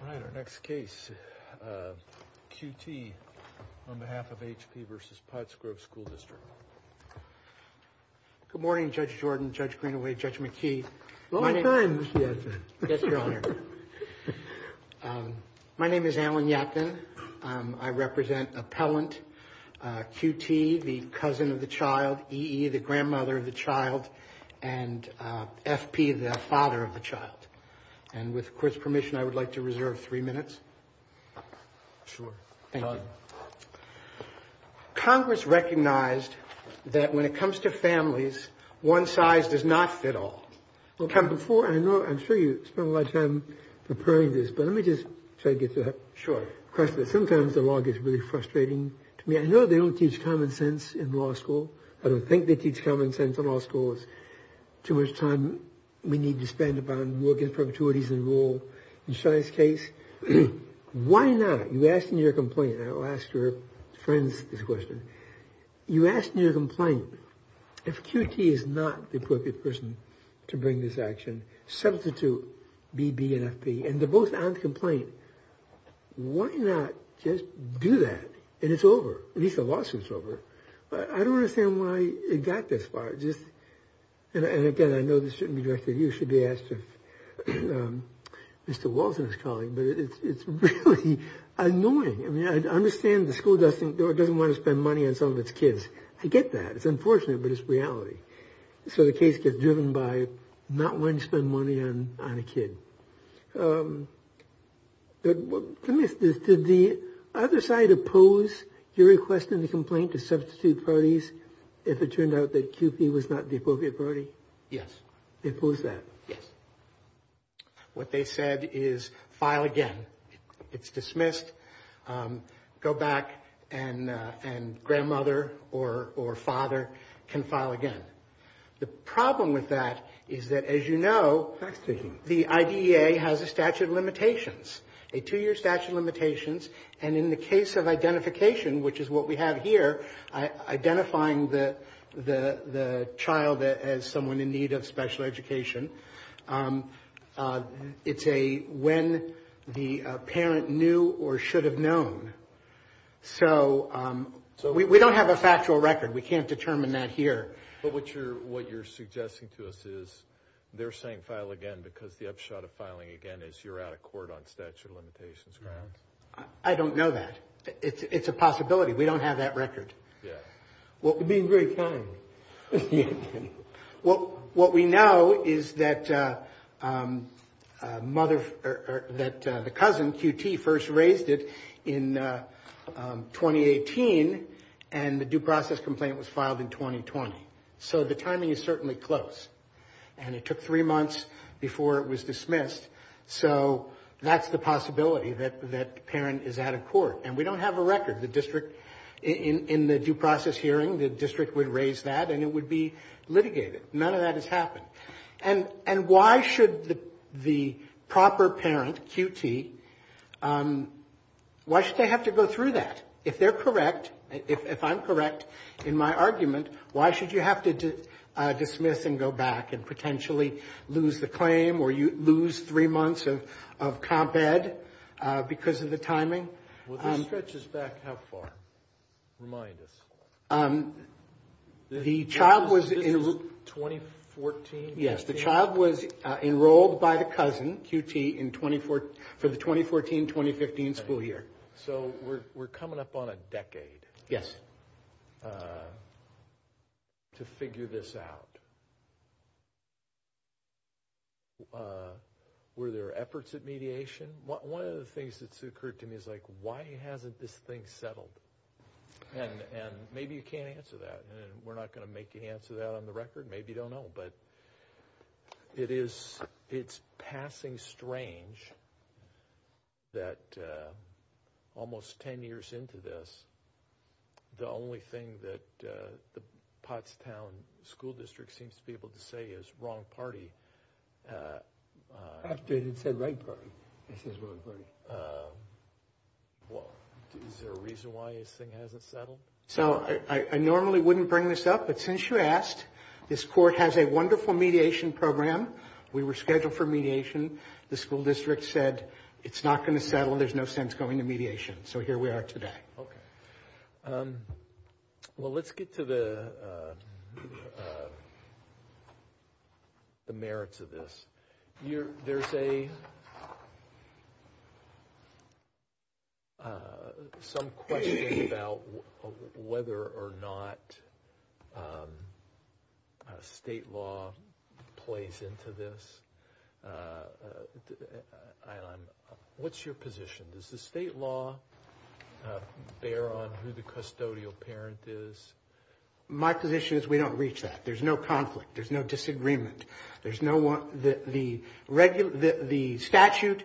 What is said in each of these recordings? All right, our next case, QT, on behalf of H.P. v. Pottsgrove School District. Good morning, Judge Jordan, Judge Greenaway, Judge McKee. Long time, Mr. Yatkin. Yes, Your Honor. My name is Alan Yatkin. I represent Appellant QT, the cousin of the child, E.E., the grandmother of the child, and F.P., the father of the child. And with the Court's permission, I would like to reserve three minutes. Sure. Thank you. Congress recognized that when it comes to families, one size does not fit all. Well, Kevin, before I know, I'm sure you spent a lot of time preparing this, but let me just take it to a question. Sure. Sometimes the law gets really frustrating to me. I know they don't teach common sense in law school. I don't think they teach common sense in law school. It's too much time we need to spend upon law against perpetuities and rule. In Shai's case, why not? You asked in your complaint, and I will ask your friends this question. You asked in your complaint, if QT is not the appropriate person to bring this action, substitute B.B. and F.P. And they're both on the complaint. Why not just do that? And it's over. At least the lawsuit's over. I don't understand why it got this far. And, again, I know this shouldn't be directed at you. It should be asked of Mr. Walton's colleague. But it's really annoying. I mean, I understand the school doesn't want to spend money on some of its kids. I get that. It's unfortunate, but it's reality. So the case gets driven by not wanting to spend money on a kid. Thank you. Let me ask this. Did the other side oppose your request in the complaint to substitute parties if it turned out that QP was not the appropriate party? Yes. They opposed that? Yes. What they said is file again. It's dismissed. Go back and grandmother or father can file again. The problem with that is that, as you know, the IDEA has a statute of limitations, a two-year statute of limitations. And in the case of identification, which is what we have here, identifying the child as someone in need of special education, it's a when the parent knew or should have known. So we don't have a factual record. We can't determine that here. But what you're suggesting to us is they're saying file again because the upshot of filing again is you're out of court on statute of limitations grounds. I don't know that. It's a possibility. We don't have that record. You're being very kind. What we know is that the cousin, QT, first raised it in 2018 and the due process complaint was filed in 2020. So the timing is certainly close. And it took three months before it was dismissed. So that's the possibility that the parent is out of court. And we don't have a record. In the due process hearing, the district would raise that and it would be litigated. None of that has happened. And why should the proper parent, QT, why should they have to go through that? If they're correct, if I'm correct in my argument, why should you have to dismiss and go back and potentially lose the claim or lose three months of comp ed because of the timing? Well, this stretches back how far? Remind us. The child was enrolled by the cousin, QT, for the 2014-2015 school year. So we're coming up on a decade to figure this out. Were there efforts at mediation? One of the things that's occurred to me is, like, why hasn't this thing settled? And maybe you can't answer that. And we're not going to make you answer that on the record. Maybe you don't know. But it's passing strange that almost 10 years into this, the only thing that the Pottstown School District seems to be able to say is wrong party. After it had said right party, it says wrong party. Is there a reason why this thing hasn't settled? So I normally wouldn't bring this up. But since you asked, this court has a wonderful mediation program. We were scheduled for mediation. The school district said it's not going to settle and there's no sense going to mediation. So here we are today. Okay. Well, let's get to the merits of this. There's some question about whether or not state law plays into this. What's your position? Does the state law bear on who the custodial parent is? My position is we don't reach that. There's no conflict. There's no disagreement. The statute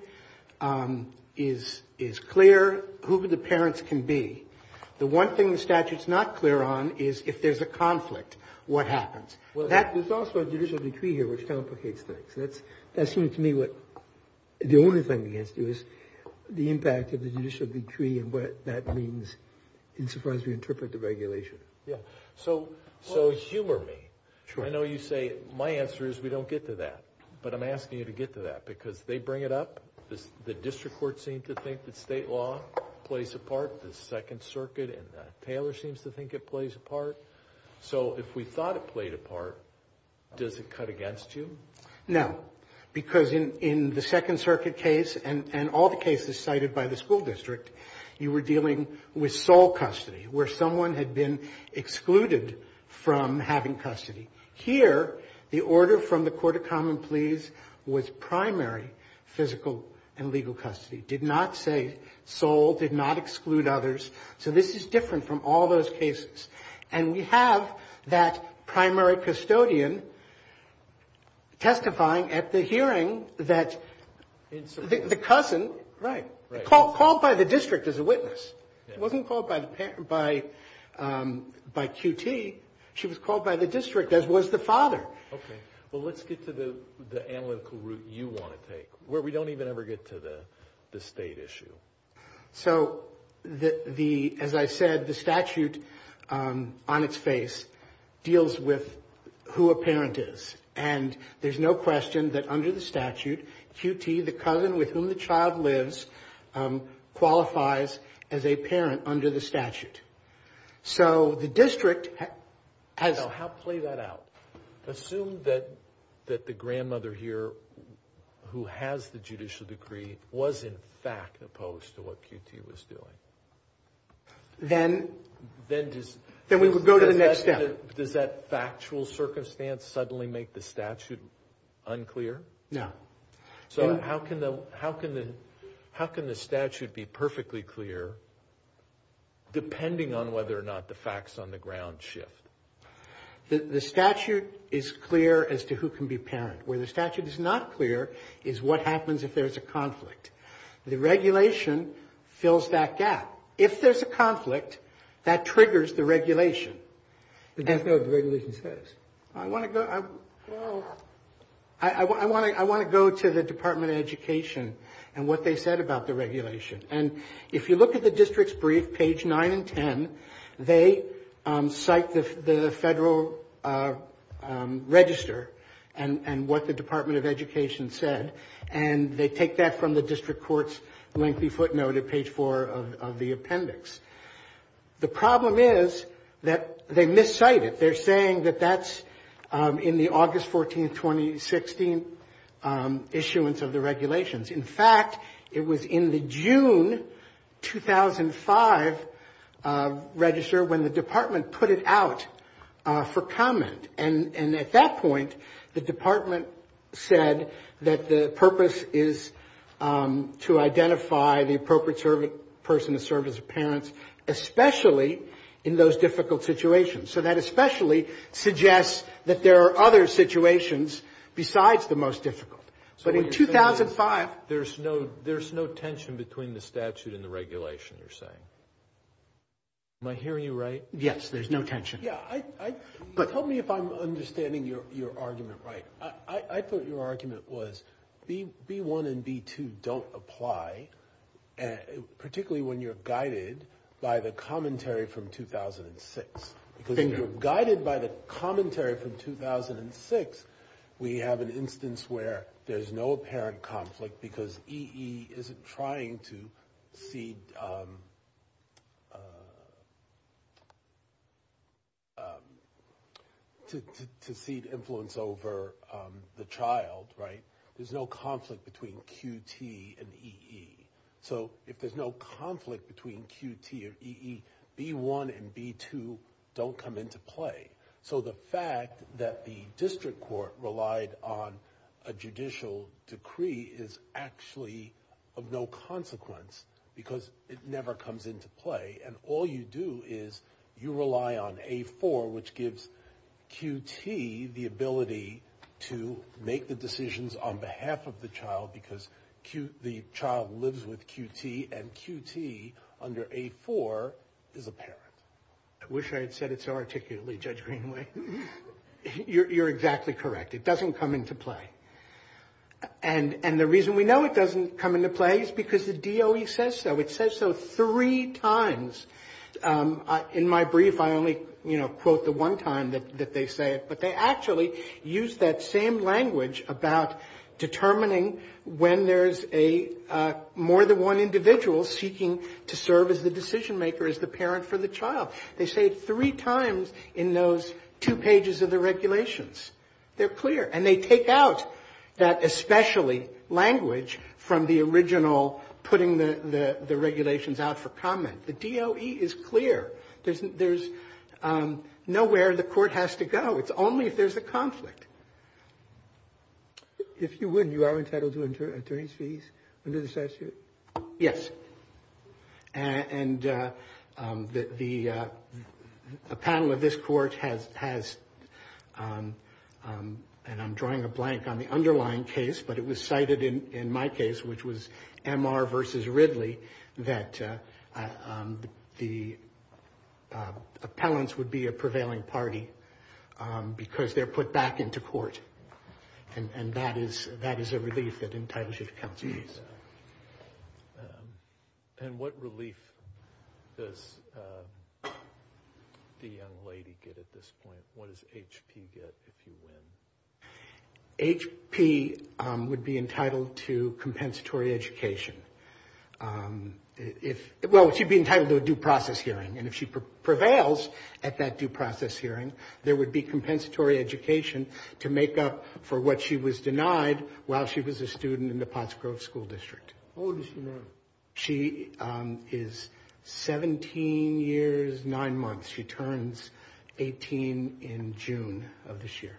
is clear. Who the parents can be. The one thing the statute's not clear on is if there's a conflict, what happens. There's also a judicial decree here which complicates things. That seems to me what the only thing against you is the impact of the judicial decree and what that means insofar as we interpret the regulation. Yeah. So humor me. I know you say my answer is we don't get to that. But I'm asking you to get to that because they bring it up. The district court seems to think that state law plays a part. The Second Circuit and Taylor seems to think it plays a part. So if we thought it played a part, does it cut against you? No. Because in the Second Circuit case and all the cases cited by the school district, you were dealing with sole custody, where someone had been excluded from having custody. Here, the order from the court of common pleas was primary physical and legal custody, did not say sole, did not exclude others. So this is different from all those cases. And we have that primary custodian testifying at the hearing that the cousin called by the district as a witness. It wasn't called by QT. She was called by the district, as was the father. Okay. Well, let's get to the analytical route you want to take, where we don't even ever get to the state issue. So, as I said, the statute on its face deals with who a parent is. And there's no question that under the statute, QT, the cousin with whom the child lives, qualifies as a parent under the statute. So the district has... Assume that the grandmother here, who has the judicial decree, was in fact opposed to what QT was doing. Then we would go to the next step. Does that factual circumstance suddenly make the statute unclear? No. So how can the statute be perfectly clear, depending on whether or not the facts on the ground shift? The statute is clear as to who can be parent. Where the statute is not clear is what happens if there's a conflict. The regulation fills that gap. If there's a conflict, that triggers the regulation. But that's not what the regulation says. I want to go to the Department of Education and what they said about the regulation. And if you look at the district's brief, page 9 and 10, they cite the federal register and what the Department of Education said. And they take that from the district court's lengthy footnote at page 4 of the appendix. The problem is that they miscite it. They're saying that that's in the August 14, 2016 issuance of the regulations. In fact, it was in the June 2005 register when the department put it out for comment. And at that point, the department said that the purpose is to identify the appropriate person to serve as a parent, especially in those difficult situations. So that especially suggests that there are other situations besides the most difficult. But in 2005. There's no tension between the statute and the regulation, you're saying. Am I hearing you right? Yes, there's no tension. Yeah. Tell me if I'm understanding your argument right. I thought your argument was B1 and B2 don't apply, particularly when you're guided by the commentary from 2006. Guided by the commentary from 2006, we have an instance where there's no apparent conflict because EE isn't trying to cede influence over the child, right? There's no conflict between QT and EE. So if there's no conflict between QT and EE, B1 and B2 don't come into play. So the fact that the district court relied on a judicial decree is actually of no consequence because it never comes into play. And all you do is you rely on A4, which gives QT the ability to make the decisions on behalf of the child because the child lives with QT and QT under A4 is a parent. I wish I had said it so articulately, Judge Greenway. You're exactly correct. It doesn't come into play. And the reason we know it doesn't come into play is because the DOE says so. It says so three times. In my brief, I only, you know, quote the one time that they say it. But they actually use that same language about determining when there's a more than one individual seeking to serve as the decision maker, as the parent for the child. They say it three times in those two pages of the regulations. They're clear. And they take out that especially language from the original putting the regulations out for comment. The DOE is clear. There's nowhere the court has to go. It's only if there's a conflict. If you would, you are entitled to attorney's fees under the statute? Yes. And the panel of this court has, and I'm drawing a blank on the underlying case, but it was cited in my case, which was MR versus Ridley, that the appellants would be a prevailing party because they're put back into court. And that is a relief that entitles you to counsel. And what relief does the young lady get at this point? What does HP get if you win? HP would be entitled to compensatory education. Well, she'd be entitled to a due process hearing. And if she prevails at that due process hearing, there would be compensatory education to make up for what she was denied while she was a student in the Potts Grove School District. How old is she now? She is 17 years, nine months. She turns 18 in June of this year.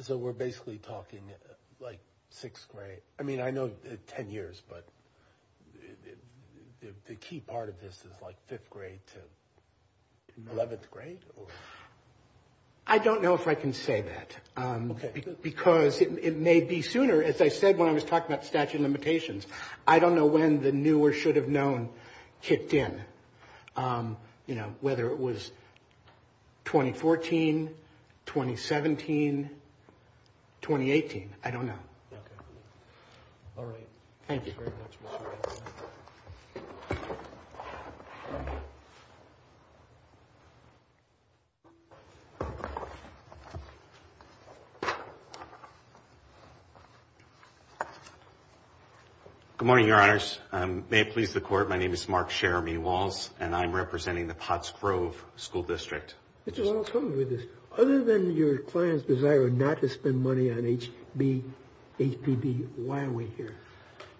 So we're basically talking like sixth grade. I mean, I know 10 years, but the key part of this is like fifth grade to 11th grade? I don't know if I can say that because it may be sooner. As I said when I was talking about statute of limitations, I don't know when the new or should have known kicked in, you know, whether it was 2014, 2017, 2018. I don't know. All right. Thank you very much. Good morning, Your Honors. May it please the Court, my name is Mark Sheremy Walz, and I'm representing the Potts Grove School District. Mr. Walz, other than your client's desire not to spend money on HBB, why are we here?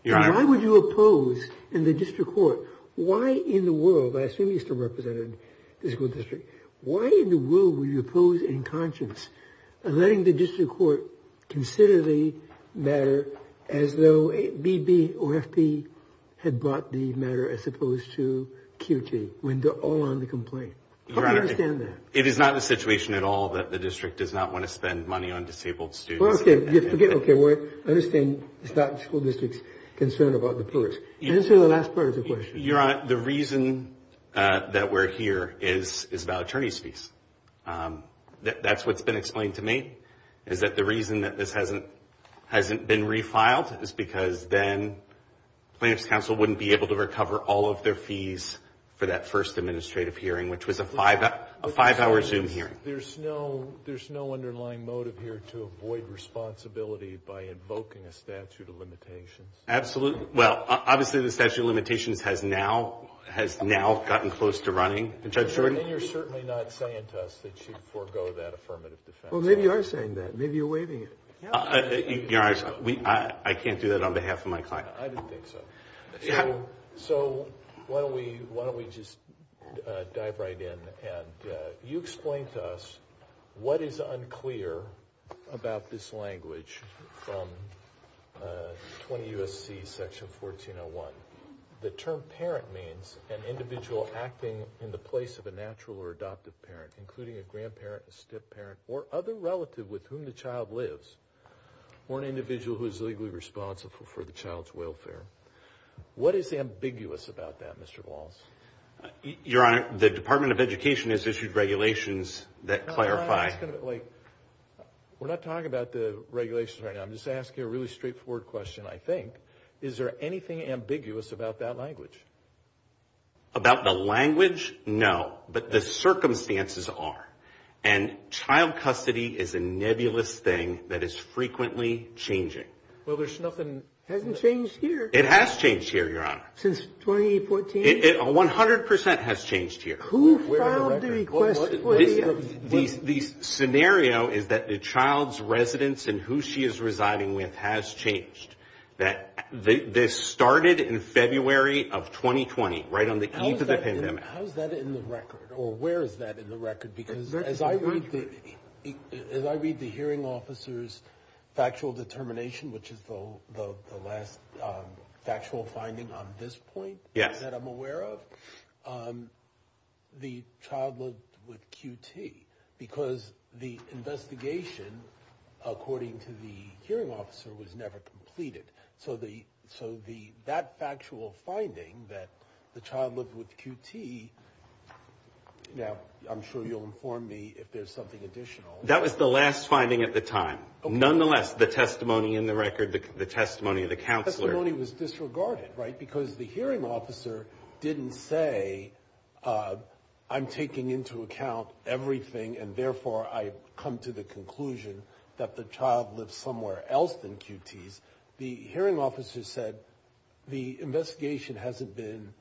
Why would you oppose in the district court? Why in the world, I assume you still represent the school district, why in the world would you oppose in conscience letting the district court consider the matter as though BB or FP had brought the matter as opposed to QT when they're all on the complaint? How do you understand that? It is not the situation at all that the district does not want to spend money on disabled students. Well, okay. Forget, okay. I understand it's not the school district's concern about the purge. Answer the last part of the question. That's what's been explained to me, is that the reason that this hasn't been refiled is because then plaintiff's counsel wouldn't be able to recover all of their fees for that first administrative hearing, which was a five-hour Zoom hearing. There's no underlying motive here to avoid responsibility by invoking a statute of limitations. Absolutely. Well, obviously the statute of limitations has now gotten close to running. And you're certainly not saying to us that you'd forego that affirmative defense. Well, maybe you are saying that. Maybe you're waiving it. I can't do that on behalf of my client. I didn't think so. So why don't we just dive right in. You explained to us what is unclear about this language from 20 U.S.C. section 1401. The term parent means an individual acting in the place of a natural or adoptive parent, including a grandparent, a step-parent, or other relative with whom the child lives, or an individual who is legally responsible for the child's welfare. What is ambiguous about that, Mr. Walls? Your Honor, the Department of Education has issued regulations that clarify. We're not talking about the regulations right now. I'm just asking a really straightforward question, I think. Is there anything ambiguous about that language? About the language? No. But the circumstances are. And child custody is a nebulous thing that is frequently changing. Well, there's nothing that hasn't changed here. It has changed here, Your Honor. Since 2014? 100% has changed here. Who filed the request? The scenario is that the child's residence and who she is residing with has changed. This started in February of 2020, right on the eve of the pandemic. How is that in the record? Or where is that in the record? Because as I read the hearing officer's factual determination, which is the last factual finding on this point. Yes. That I'm aware of. The child lived with QT because the investigation, according to the hearing officer, was never completed. So that factual finding that the child lived with QT. Now, I'm sure you'll inform me if there's something additional. That was the last finding at the time. Nonetheless, the testimony in the record, the testimony of the counselor. The testimony was disregarded, right, because the hearing officer didn't say I'm taking into account everything and therefore I come to the conclusion that the child lives somewhere else than QT's. The hearing officer said the investigation hasn't been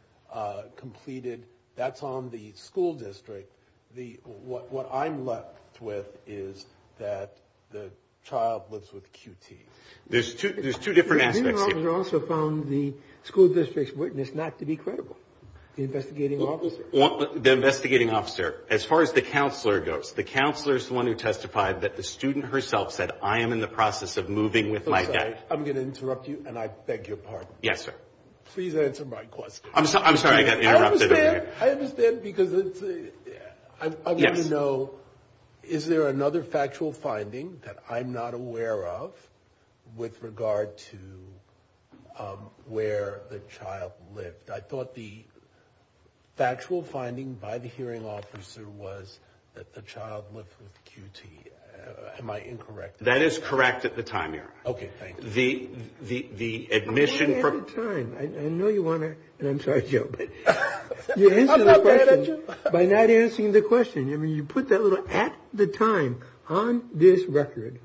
completed. That's on the school district. What I'm left with is that the child lives with QT. There's two different aspects here. The hearing officer also found the school district's witness not to be credible. The investigating officer. The investigating officer. As far as the counselor goes, the counselor is the one who testified that the student herself said, I am in the process of moving with my dad. I'm sorry. I'm going to interrupt you, and I beg your pardon. Yes, sir. Please answer my question. I'm sorry. I got interrupted. I understand because I want to know, is there another factual finding that I'm not aware of with regard to where the child lived? I thought the factual finding by the hearing officer was that the child lived with QT. Am I incorrect? That is correct at the time, Your Honor. Okay. Thank you. The admission. At the time. I know you want to. I'm sorry, Joe. You answered the question by not answering the question. I mean, you put that little at the time on this record,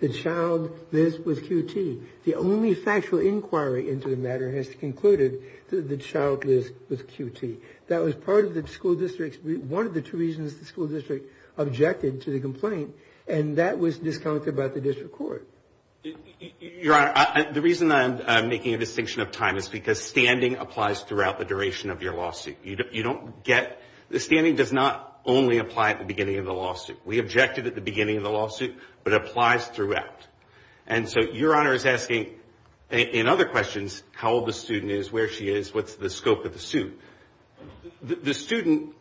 the child lives with QT. The only factual inquiry into the matter has concluded that the child lives with QT. That was part of the school district's. One of the two reasons the school district objected to the complaint, and that was discounted by the district court. Your Honor, the reason I'm making a distinction of time is because standing applies throughout the duration of your lawsuit. You don't get. The standing does not only apply at the beginning of the lawsuit. We objected at the beginning of the lawsuit, but it applies throughout. And so Your Honor is asking, in other questions, how old the student is, where she is, what's the scope of the suit. The student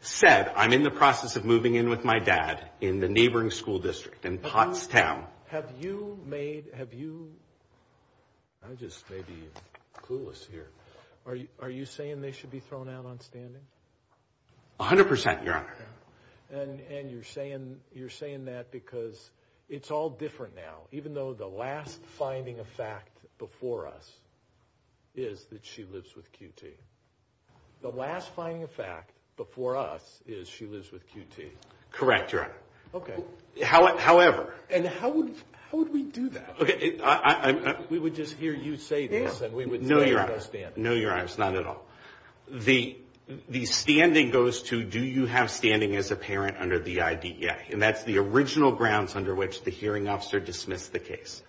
said, I'm in the process of moving in with my dad in the neighboring school district in Pottstown. Have you made, have you, I just may be clueless here. Are you saying they should be thrown out on standing? A hundred percent, Your Honor. And you're saying that because it's all different now, even though the last finding of fact before us is that she lives with QT. The last finding of fact before us is she lives with QT. Correct, Your Honor. Okay. However. And how would we do that? Okay. We would just hear you say this. No, Your Honor. No, Your Honor. It's not at all. The standing goes to, do you have standing as a parent under the IDEA? And that's the original grounds under which the hearing officer dismissed the case.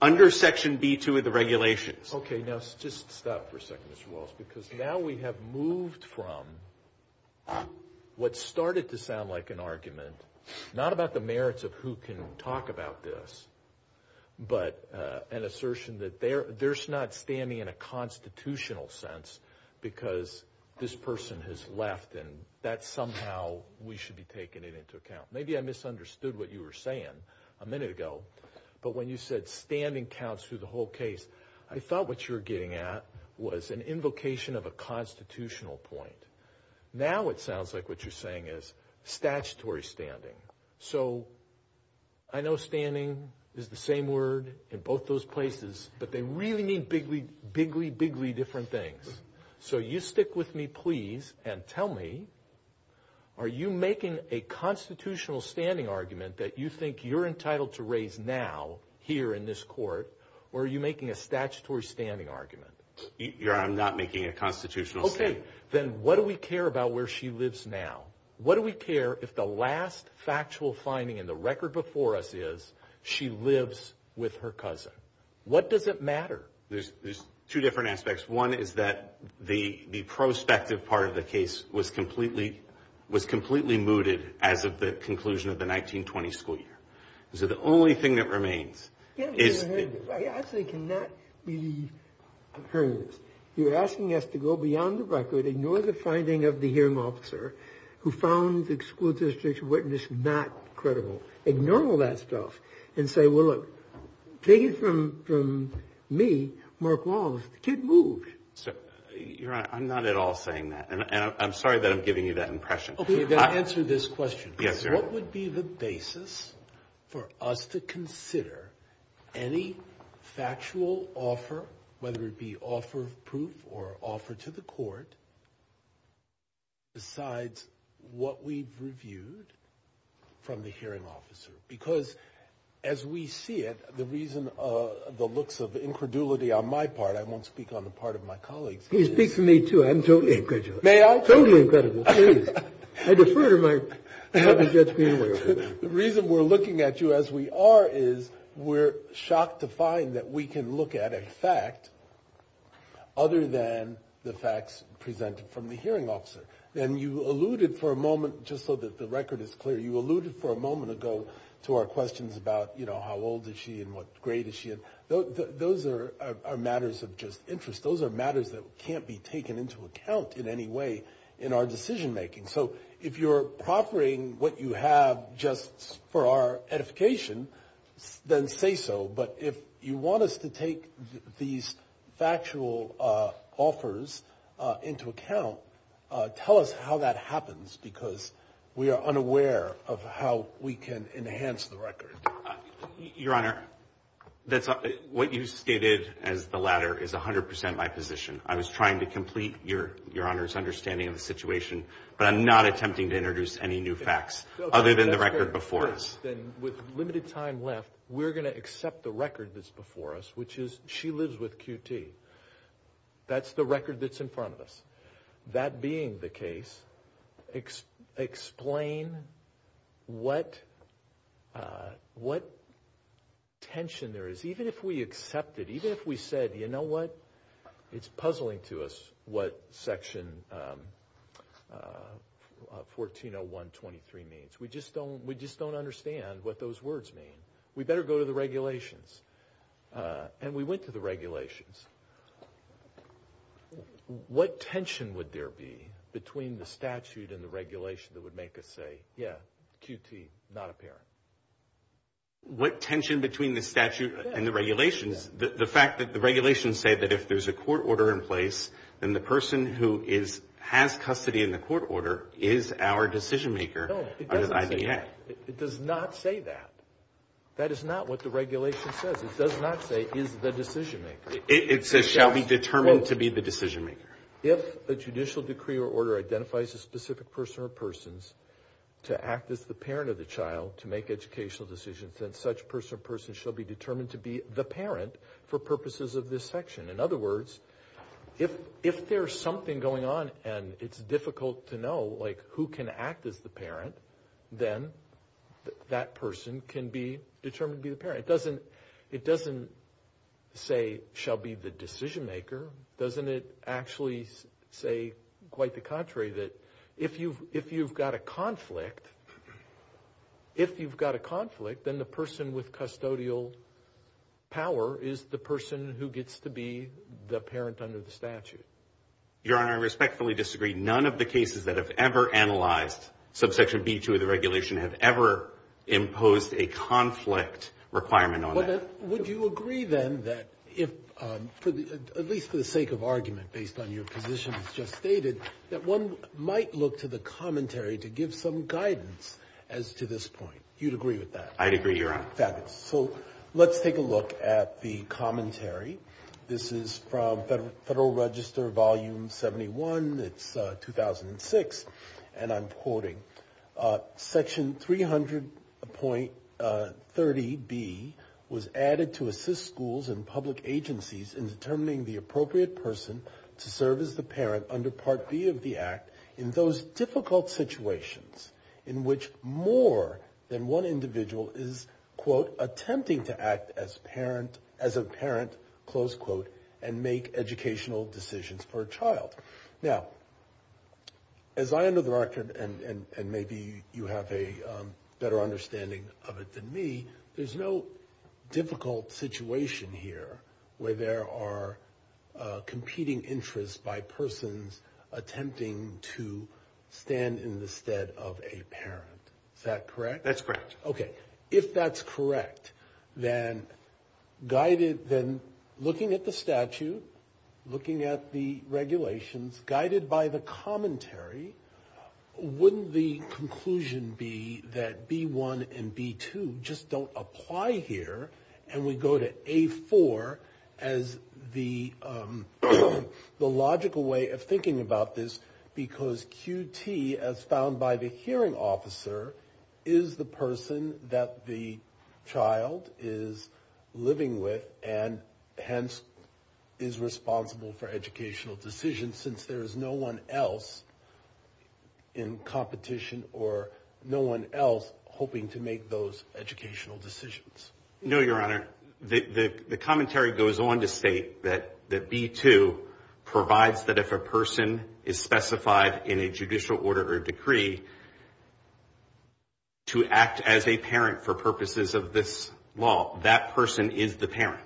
Under Section B-2 of the regulations. Okay. Now, just stop for a second, Mr. Walz, because now we have moved from what started to sound like an argument, not about the merits of who can talk about this, but an assertion that there's not standing in a constitutional sense because this person has left and that somehow we should be taking it into account. Maybe I misunderstood what you were saying a minute ago, but when you said standing counts through the whole case, I thought what you were getting at was an invocation of a constitutional point. Now it sounds like what you're saying is statutory standing. So I know standing is the same word in both those places, but they really mean bigly, bigly, bigly different things. So you stick with me, please, and tell me, are you making a constitutional standing argument that you think you're entitled to raise now, here in this court, or are you making a statutory standing argument? Your Honor, I'm not making a constitutional standing argument. Okay. Then what do we care about where she lives now? What do we care if the last factual finding in the record before us is she lives with her cousin? What does it matter? There's two different aspects. One is that the prospective part of the case was completely mooted as of the conclusion of the 1920 school year. So the only thing that remains is... I actually cannot believe I'm hearing this. You're asking us to go beyond the record, ignore the finding of the hearing officer who found the school district's witness not credible. Ignore all that stuff and say, well, look, take it from me, Mark Walls, the kid moved. Your Honor, I'm not at all saying that, and I'm sorry that I'm giving you that impression. Okay. Yes, Your Honor. What would be the basis for us to consider any factual offer, whether it be offer of proof or offer to the court, besides what we've reviewed from the hearing officer? Because as we see it, the reason the looks of incredulity on my part, I won't speak on the part of my colleagues. Please speak for me, too. I'm totally incredulous. May I? Totally incredible, please. I defer to my... The reason we're looking at you as we are is we're shocked to find that we can look at a fact other than the facts presented from the hearing officer. And you alluded for a moment, just so that the record is clear, you alluded for a moment ago to our questions about, you know, how old is she and what grade is she in. Those are matters of just interest. Those are matters that can't be taken into account in any way in our decision-making. So if you're proffering what you have just for our edification, then say so. But if you want us to take these factual offers into account, tell us how that happens, because we are unaware of how we can enhance the record. Your Honor, what you stated as the latter is 100% my position. I was trying to complete Your Honor's understanding of the situation, but I'm not attempting to introduce any new facts other than the record before us. Then with limited time left, we're going to accept the record that's before us, which is she lives with QT. That's the record that's in front of us. That being the case, explain what tension there is. Even if we accept it, even if we said, you know what, it's puzzling to us what Section 1401.23 means. We just don't understand what those words mean. We better go to the regulations. And we went to the regulations. What tension would there be between the statute and the regulation that would make us say, yeah, QT, not apparent? What tension between the statute and the regulations? The fact that the regulations say that if there's a court order in place, then the person who has custody in the court order is our decision maker. No, it doesn't say that. It does not say that. That is not what the regulation says. It does not say is the decision maker. It says shall be determined to be the decision maker. If a judicial decree or order identifies a specific person or persons to act as the parent of the child to make educational decisions, then such person or person shall be determined to be the parent for purposes of this section. In other words, if there's something going on and it's difficult to know, like, who can act as the parent, then that person can be determined to be the parent. It doesn't say shall be the decision maker. Doesn't it actually say quite the contrary that if you've got a conflict, if you've got a conflict, then the person with custodial power is the person who gets to be the parent under the statute? Your Honor, I respectfully disagree. None of the cases that have ever analyzed subsection B2 of the regulation have ever imposed a conflict requirement on that. Would you agree then that if, at least for the sake of argument based on your position as just stated, that one might look to the commentary to give some guidance as to this point? You'd agree with that? I'd agree, Your Honor. Fabulous. So let's take a look at the commentary. This is from Federal Register Volume 71. It's 2006, and I'm quoting, Section 300.30B was added to assist schools and public agencies in determining the appropriate person to serve as the parent under Part B of the Act in those difficult situations in which more than one individual is, quote, As I under the record, and maybe you have a better understanding of it than me, there's no difficult situation here where there are competing interests by persons attempting to stand in the stead of a parent. Is that correct? That's correct. Okay. If that's correct, then looking at the statute, looking at the regulations guided by the commentary, wouldn't the conclusion be that B1 and B2 just don't apply here? And we go to A4 as the logical way of thinking about this, because QT, as found by the hearing officer, is the person that the child is living with and hence is responsible for educational decisions since there is no one else in competition or no one else hoping to make those educational decisions? No, Your Honor. The commentary goes on to state that B2 provides that if a person is specified in a judicial order or decree to act as a parent for purposes of this law, that person is the parent.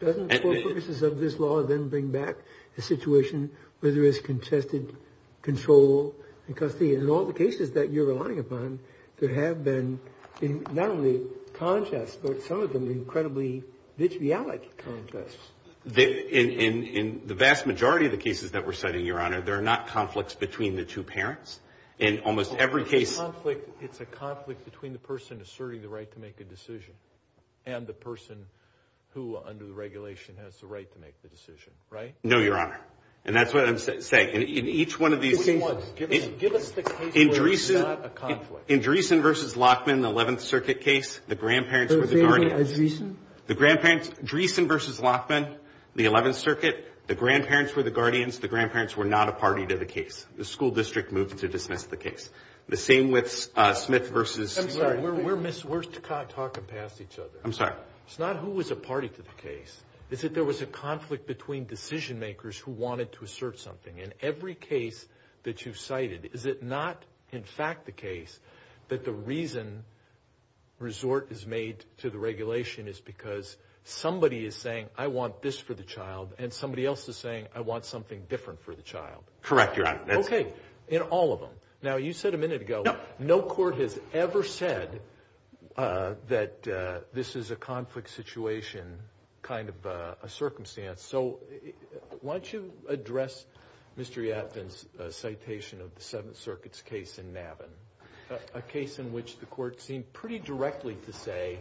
Doesn't for purposes of this law then bring back a situation where there is contested control and custody? In all the cases that you're relying upon, there have been not only contests, but some of them incredibly vitriolic contests. In the vast majority of the cases that we're citing, Your Honor, there are not conflicts between the two parents. In almost every case… It's a conflict between the person asserting the right to make a decision and the person who under the regulation has the right to make the decision, right? No, Your Honor. And that's what I'm saying. In each one of these… Give us the case where it's not a conflict. In Dreesen v. Lockman, the 11th Circuit case, the grandparents were the guardians. The same thing as Dreesen? Dreesen v. Lockman, the 11th Circuit, the grandparents were the guardians. The grandparents were not a party to the case. The school district moved to dismiss the case. The same with Smith v.… I'm sorry. We're talking past each other. I'm sorry. It's not who was a party to the case. It's that there was a conflict between decision makers who wanted to assert something. In every case that you've cited, is it not in fact the case that the reason resort is made to the regulation is because somebody is saying, I want this for the child, and somebody else is saying, I want something different for the child? Correct, Your Honor. Okay. In all of them. Now, you said a minute ago, no court has ever said that this is a conflict situation kind of a circumstance. So why don't you address Mr. Yatvin's citation of the 7th Circuit's case in Navin, a case in which the court seemed pretty directly to say,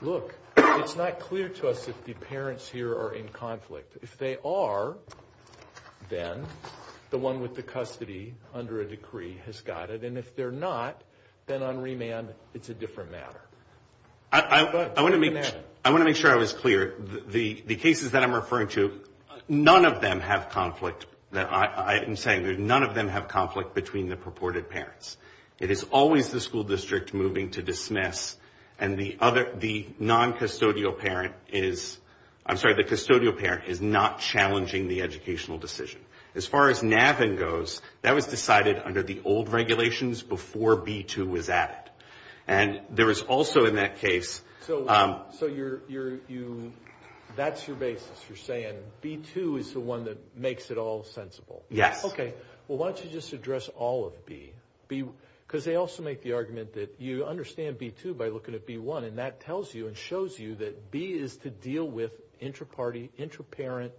look, it's not clear to us if the parents here are in conflict. If they are, then the one with the custody under a decree has got it, and if they're not, then on remand it's a different matter. I want to make sure I was clear. The cases that I'm referring to, none of them have conflict. I am saying none of them have conflict between the purported parents. It is always the school district moving to dismiss, and the noncustodial parent is not challenging the educational decision. As far as Navin goes, that was decided under the old regulations before B-2 was added. And there was also in that case. So that's your basis. You're saying B-2 is the one that makes it all sensible. Yes. Okay. Well, why don't you just address all of B? Because they also make the argument that you understand B-2 by looking at B-1, and that tells you and shows you that B is to deal with intraparty, intraparent,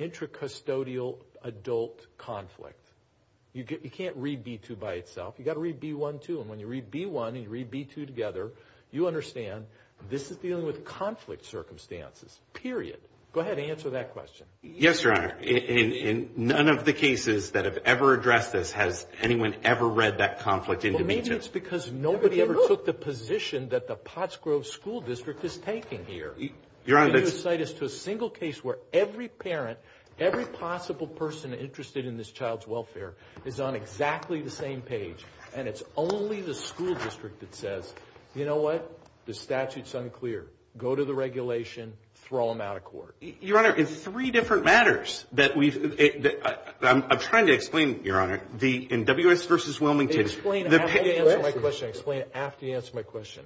intracustodial adult conflict. You can't read B-2 by itself. You've got to read B-1 too. And when you read B-1 and you read B-2 together, you understand this is dealing with conflict circumstances, period. Go ahead and answer that question. Yes, Your Honor. In none of the cases that have ever addressed this has anyone ever read that conflict into B-2. Well, maybe it's because nobody ever took the position that the Potts Grove School District is taking here. Your Honor, that's — And you cite us to a single case where every parent, every possible person interested in this child's welfare is on exactly the same page, and it's only the school district that says, you know what, the statute's unclear. Go to the regulation, throw them out of court. Your Honor, in three different matters that we've — I'm trying to explain, Your Honor. In W.S. v. Wilmington — Explain after you answer my question. Explain after you answer my question.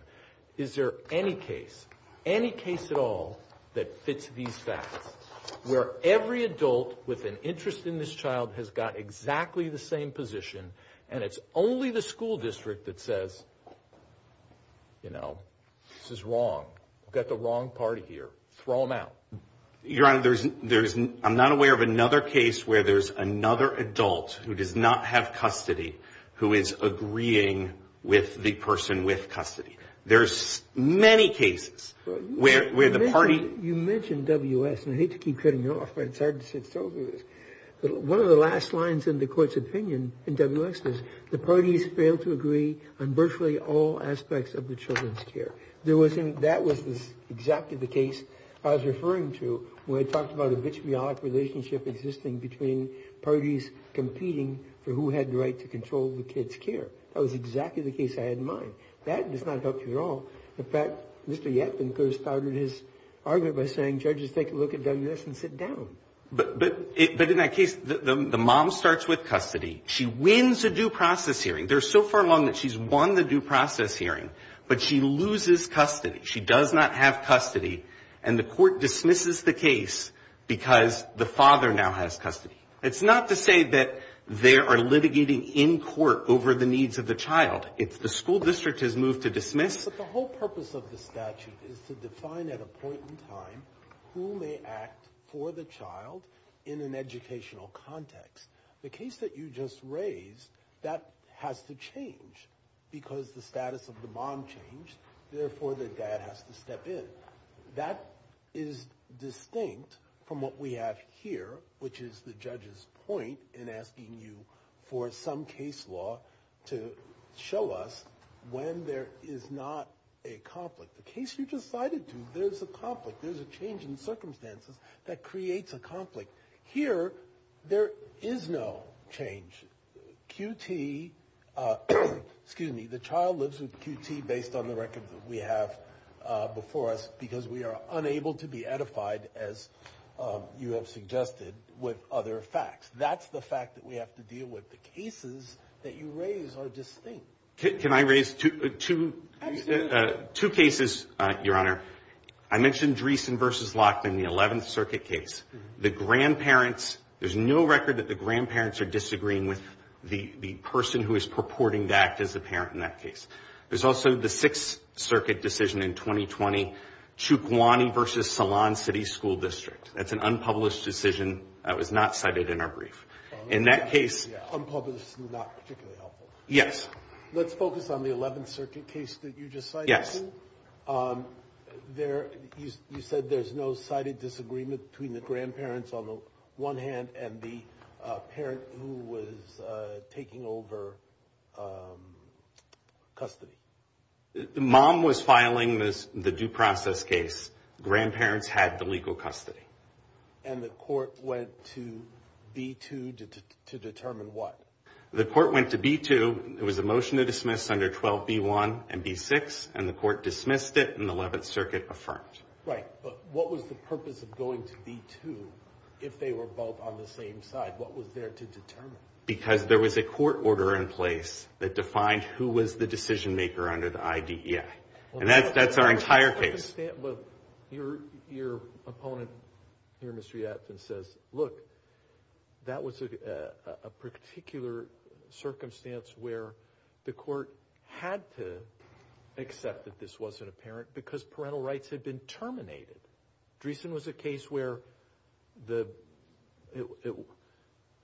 Is there any case, any case at all, that fits these facts, where every adult with an interest in this child has got exactly the same position, and it's only the school district that says, you know, this is wrong. We've got the wrong party here. Throw them out. Your Honor, there's — I'm not aware of another case where there's another adult who does not have custody who is agreeing with the person with custody. There's many cases where the party — You mentioned W.S., and I hate to keep cutting you off, but it's hard to sit still through this. One of the last lines in the court's opinion in W.S. is, the parties fail to agree on virtually all aspects of the children's care. That was exactly the case I was referring to when I talked about a vitriolic relationship existing between parties competing for who had the right to control the kids' care. That was exactly the case I had in mind. That does not help you at all. In fact, Mr. Yatvin could have started his argument by saying, judges, take a look at W.S. and sit down. But in that case, the mom starts with custody. She wins a due process hearing. They're so far along that she's won the due process hearing, but she loses custody. She does not have custody, and the court dismisses the case because the father now has custody. It's not to say that they are litigating in court over the needs of the child. It's the school district has moved to dismiss. But the whole purpose of the statute is to define at a point in time who may act for the child in an educational context. The case that you just raised, that has to change because the status of the mom changed. Therefore, the dad has to step in. That is distinct from what we have here, which is the judge's point in asking you for some case law to show us when there is not a conflict. The case you just cited, there's a conflict. There's a change in circumstances that creates a conflict. Here, there is no change. QT, excuse me, the child lives with QT based on the record that we have before us because we are unable to be edified, as you have suggested, with other facts. That's the fact that we have to deal with. The cases that you raise are distinct. Can I raise two cases, Your Honor? I mentioned Dreesen v. Lockton, the 11th Circuit case. The grandparents, there's no record that the grandparents are disagreeing with the person who is purporting to act as the parent in that case. There's also the 6th Circuit decision in 2020, Chukwuani v. Salon City School District. That's an unpublished decision that was not cited in our brief. In that case. Unpublished and not particularly helpful. Yes. Let's focus on the 11th Circuit case that you just cited. Yes. You said there's no cited disagreement between the grandparents on the one hand and the parent who was taking over custody. The mom was filing the due process case. Grandparents had the legal custody. And the court went to B2 to determine what? The court went to B2. It was a motion to dismiss under 12B1 and B6. And the court dismissed it and the 11th Circuit affirmed. Right. But what was the purpose of going to B2 if they were both on the same side? What was there to determine? Because there was a court order in place that defined who was the decision maker under the IDEA. And that's our entire case. Your opponent here, Mr. Yadfin, says, look, that was a particular circumstance where the court had to accept that this wasn't apparent because parental rights had been terminated. Dreesen was a case where there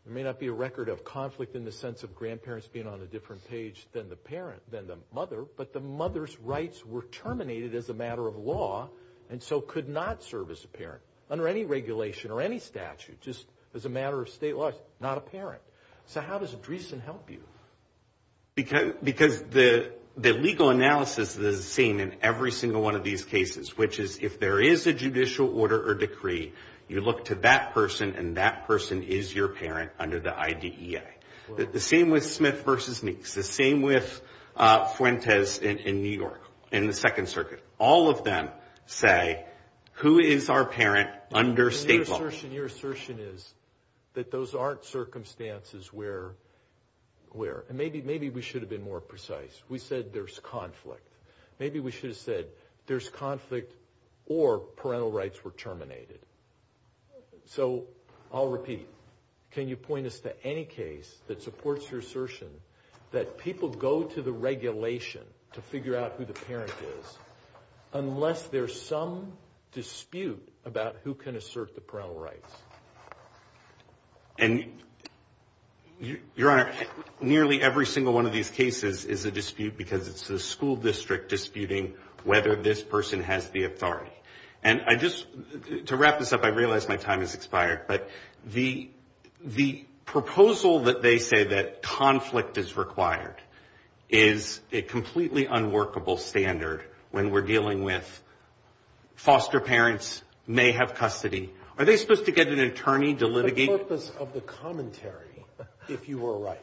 may not be a record of conflict in the sense of grandparents being on a different page than the mother, but the mother's rights were terminated as a matter of law and so could not serve as apparent under any regulation or any statute, just as a matter of state law, not apparent. So how does Dreesen help you? Because the legal analysis is the same in every single one of these cases, which is if there is a judicial order or decree, you look to that person and that person is your parent under the IDEA. The same with Smith v. Meeks. The same with Fuentes in New York in the Second Circuit. All of them say, who is our parent under state law? Your assertion is that those aren't circumstances where, and maybe we should have been more precise. We said there's conflict. Maybe we should have said there's conflict or parental rights were terminated. So I'll repeat. Can you point us to any case that supports your assertion that people go to the regulation to figure out who the parent is unless there's some dispute about who can assert the parental rights? And, Your Honor, nearly every single one of these cases is a dispute because it's the school district disputing whether this person has the authority. And I just, to wrap this up, I realize my time has expired, but the proposal that they say that conflict is required is a completely unworkable standard when we're dealing with foster parents may have custody. Are they supposed to get an attorney to litigate? The purpose of the commentary, if you were right.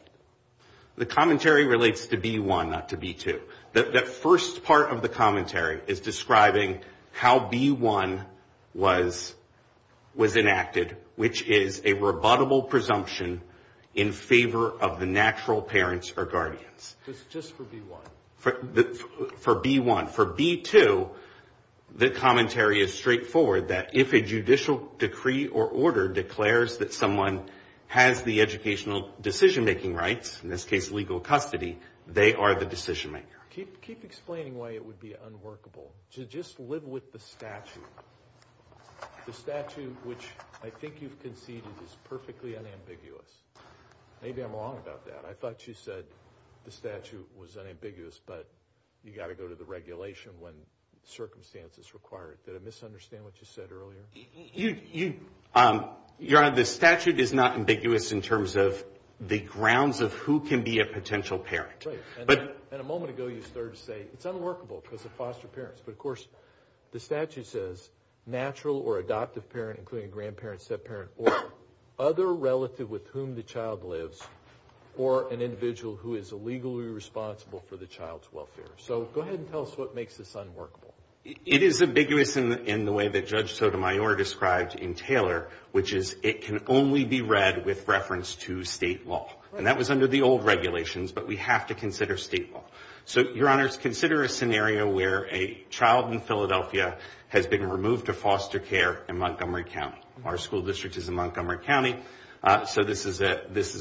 The commentary relates to B1, not to B2. That first part of the commentary is describing how B1 was enacted, which is a rebuttable presumption in favor of the natural parents or guardians. It's just for B1. For B1. For B2, the commentary is straightforward, that if a judicial decree or order declares that someone has the educational decision-making rights, in this case legal custody, they are the decision-maker. Keep explaining why it would be unworkable. Just live with the statute. The statute, which I think you've conceded, is perfectly unambiguous. Maybe I'm wrong about that. I thought you said the statute was unambiguous, but you've got to go to the regulation when circumstances require it. Did I misunderstand what you said earlier? Your Honor, the statute is not ambiguous in terms of the grounds of who can be a potential parent. Right. And a moment ago you started to say it's unworkable because of foster parents. But, of course, the statute says natural or adoptive parent, including grandparent, step-parent, or other relative with whom the child lives, or an individual who is illegally responsible for the child's welfare. So go ahead and tell us what makes this unworkable. It is ambiguous in the way that Judge Sotomayor described in Taylor, which is it can only be read with reference to state law. And that was under the old regulations, but we have to consider state law. So, Your Honor, consider a scenario where a child in Philadelphia has been removed to foster care in Montgomery County. Our school district is in Montgomery County, so this is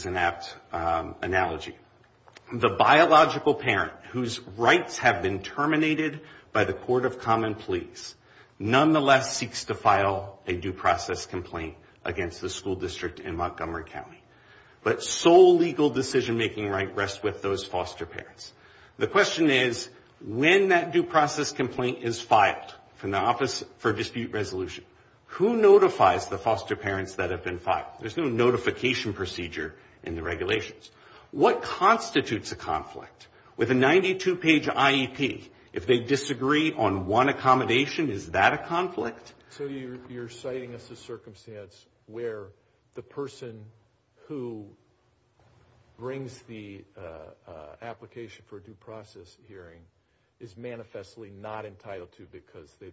an apt analogy. The biological parent whose rights have been terminated by the Court of Common Pleas nonetheless seeks to file a due process complaint against the school district in Montgomery County. But sole legal decision-making right rests with those foster parents. The question is, when that due process complaint is filed from the Office for Dispute Resolution, who notifies the foster parents that have been filed? There's no notification procedure in the regulations. What constitutes a conflict? With a 92-page IEP, if they disagree on one accommodation, is that a conflict? So you're citing us a circumstance where the person who brings the application for a due process hearing is manifestly not entitled to because their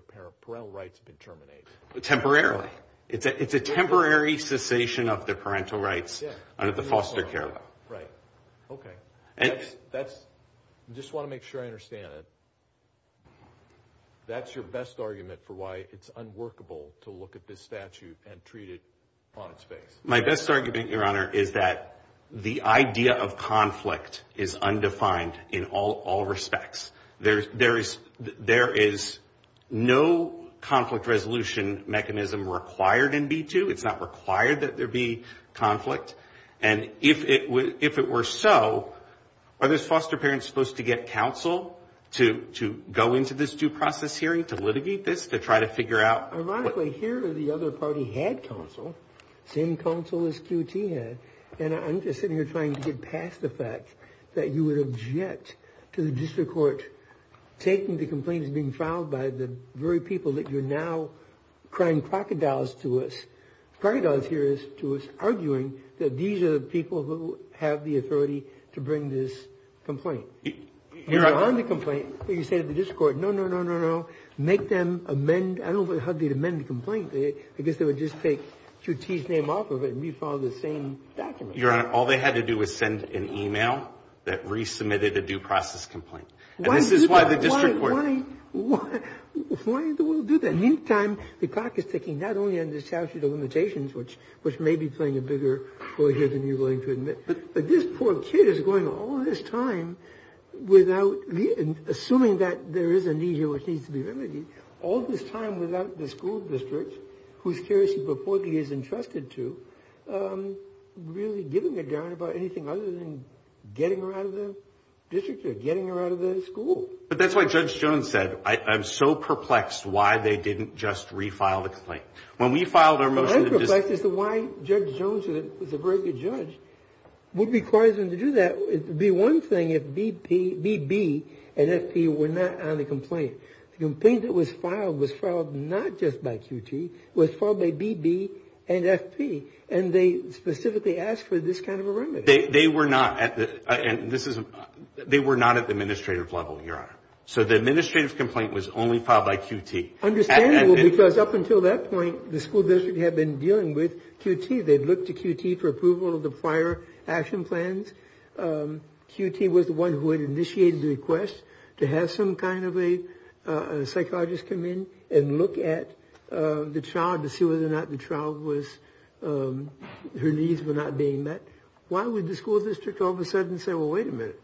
parental rights have been terminated. Temporarily. Temporarily. It's a temporary cessation of their parental rights under the foster care law. Right. Okay. I just want to make sure I understand it. That's your best argument for why it's unworkable to look at this statute and treat it on its face. My best argument, Your Honor, is that the idea of conflict is undefined in all respects. There is no conflict resolution mechanism required in B-2. It's not required that there be conflict. And if it were so, are those foster parents supposed to get counsel to go into this due process hearing, to litigate this, to try to figure out what? Ironically, here the other party had counsel, same counsel as QT had. And I'm just sitting here trying to get past the fact that you would object to the district court taking the complaints being filed by the very people that you're now crying crocodiles to us. Crocodiles here is to us arguing that these are the people who have the authority to bring this complaint. You're on the complaint, but you say to the district court, no, no, no, no, no. Make them amend. I don't know how they'd amend the complaint. I guess they would just take QT's name off of it and refile the same document. Your Honor, all they had to do was send an e-mail that resubmitted a due process complaint. And this is why the district court — Why do we do that? Meantime, the clock is ticking, not only on the statute of limitations, which may be playing a bigger role here than you're willing to admit. But this poor kid is going all this time without — assuming that there is a need here All this time without the school district, whose care she purportedly is entrusted to, really giving a darn about anything other than getting her out of the district or getting her out of the school. But that's what Judge Jones said. I'm so perplexed why they didn't just refile the complaint. When we filed our motion — The other perplex is why Judge Jones, who was a very good judge, would require them to do that. It would be one thing if B.B. and F.P. were not on the complaint. The complaint that was filed was filed not just by QT. It was filed by B.B. and F.P. And they specifically asked for this kind of a remedy. They were not at the administrative level, Your Honor. So the administrative complaint was only filed by QT. Understandable, because up until that point, the school district had been dealing with QT. They'd looked to QT for approval of the prior action plans. QT was the one who had initiated the request to have some kind of a psychiatrist come in and look at the child to see whether or not the child was — her needs were not being met. Why would the school district all of a sudden say, well, wait a minute.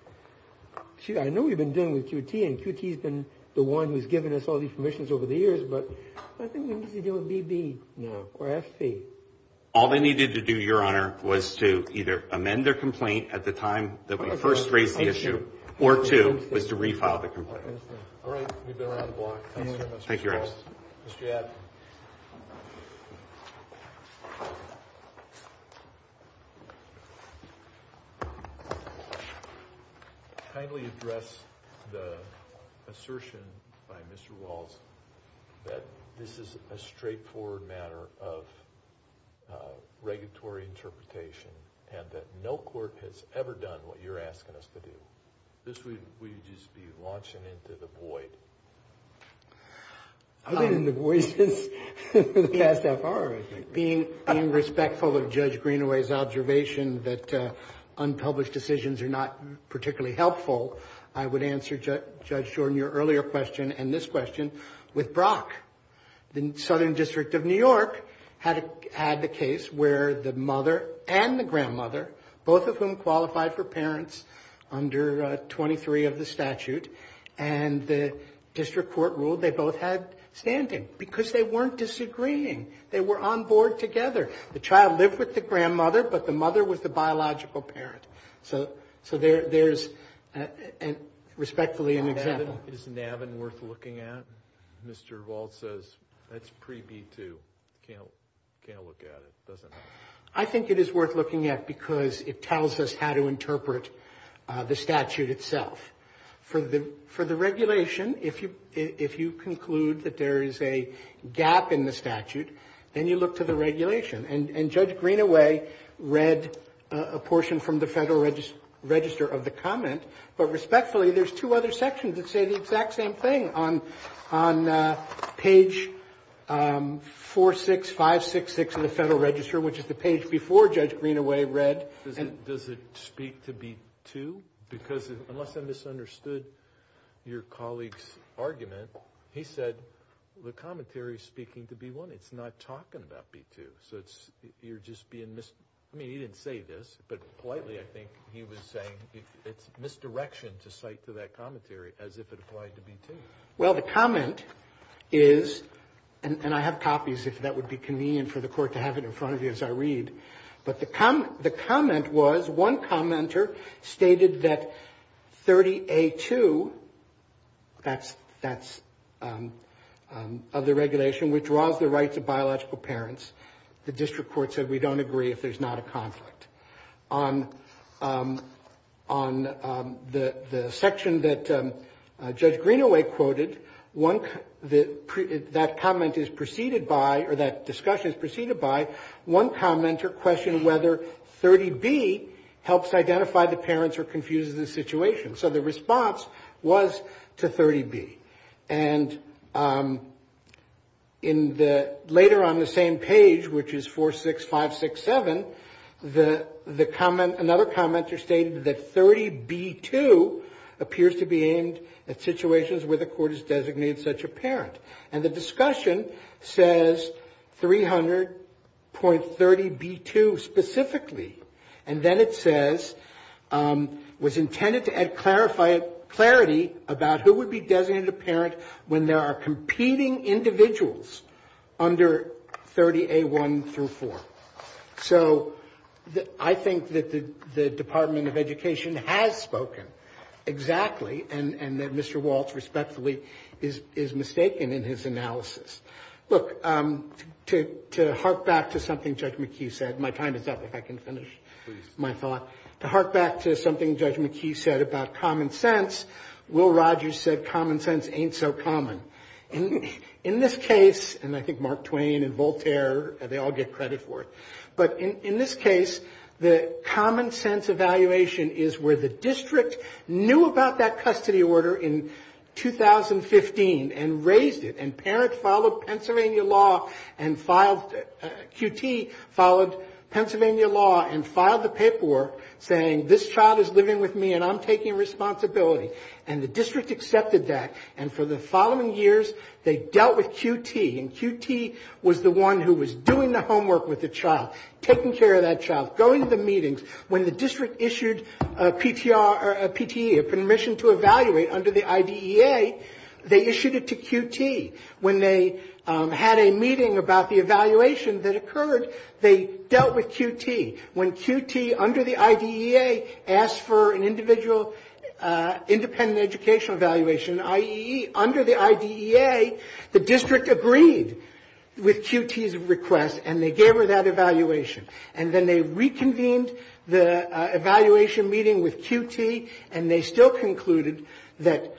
I know we've been dealing with QT, and QT's been the one who's given us all these permissions over the years, but I think we need to deal with B.B. now, or F.P. All they needed to do, Your Honor, was to either amend their complaint at the time that we first raised the issue, or two, was to refile the complaint. All right. We've been around the block. Thank you, Mr. Walls. Thank you, Rex. Mr. Abbott. Kindly address the assertion by Mr. Walls that this is a straightforward matter of regulatory interpretation and that no court has ever done what you're asking us to do. This would just be launching into the void. I've been in the void since the past FR, I think. Being respectful of Judge Greenaway's observation that unpublished decisions are not particularly helpful, I would answer, Judge Jordan, your earlier question and this question with Brock. The Southern District of New York had the case where the mother and the grandmother, both of whom qualified for parents under 23 of the statute, and the district court ruled they both had standing because they weren't disagreeing. They were on board together. The child lived with the grandmother, but the mother was the biological parent. So there's respectfully an example. Is NAVIN worth looking at? Mr. Walls says that's pre-B-2. Can't look at it, doesn't help. I think it is worth looking at because it tells us how to interpret the statute itself. For the regulation, if you conclude that there is a gap in the statute, then you look to the regulation. And Judge Greenaway read a portion from the Federal Register of the comment, but respectfully there's two other sections that say the exact same thing on page 46566 of the Federal Register, which is the page before Judge Greenaway read. Does it speak to B-2? Because unless I misunderstood your colleague's argument, he said the commentary is speaking to B-1. It's not talking about B-2. So you're just being mis- I mean, he didn't say this, but politely I think he was saying it's misdirection to cite to that commentary as if it applied to B-2. Well, the comment is, and I have copies if that would be convenient for the court to have it in front of you as I read, but the comment was one commenter stated that 30A-2, that's of the regulation, withdraws the rights of biological parents. The district court said we don't agree if there's not a conflict. On the section that Judge Greenaway quoted, that comment is preceded by, or that discussion is preceded by one commenter questioned whether 30B helps identify the parents or confuses the situation. So the response was to 30B. And later on the same page, which is 46567, another commenter stated that 30B-2 appears to be aimed at situations where the court has designated such a parent. And the discussion says 300.30B-2 specifically. And then it says, was intended to add clarity about who would be designated a parent when there are competing individuals under 30A-1 through 4. So I think that the Department of Education has spoken exactly, and that Mr. Walts respectfully is mistaken in his analysis. Look, to hark back to something Judge McHugh said, my time is up, if I can finish my thought. To hark back to something Judge McHugh said about common sense, Will Rogers said common sense ain't so common. In this case, and I think Mark Twain and Voltaire, they all get credit for it, but in this case the common sense evaluation is where the district knew about that custody order in 2015 and raised it. And parents followed Pennsylvania law and filed, QT followed Pennsylvania law and filed the paperwork saying, this child is living with me and I'm taking responsibility. And the district accepted that. And for the following years they dealt with QT. And QT was the one who was doing the homework with the child, taking care of that child, going to the meetings. When the district issued a PTR or a PTE, a permission to evaluate under the IDEA, they issued it to QT. When they had a meeting about the evaluation that occurred, they dealt with QT. When QT under the IDEA asked for an individual independent educational evaluation, i.e., under the IDEA, the district agreed with QT's request and they gave her that evaluation. And then they reconvened the evaluation meeting with QT and they still concluded that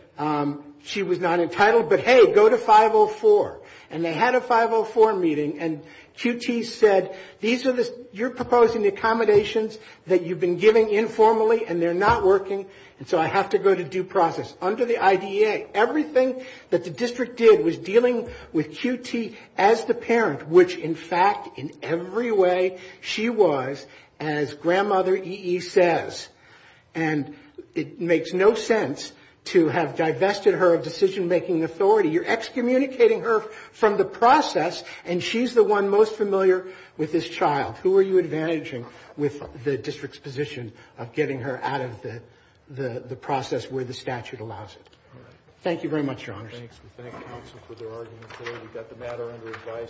she was not entitled. But, hey, go to 504. And they had a 504 meeting and QT said, these are the, you're proposing accommodations that you've been giving informally and they're not working and so I have to go to due process. Under the IDEA, everything that the district did was dealing with QT as the parent, which, in fact, in every way she was, as Grandmother E.E. says. And it makes no sense to have divested her of decision-making authority. You're excommunicating her from the process and she's the one most familiar with this child. Who are you advantaging with the district's position of getting her out of the process where the statute allows it? All right. Thank you very much, Your Honor. Thanks. We thank counsel for their argument today. We've got the matter under advice.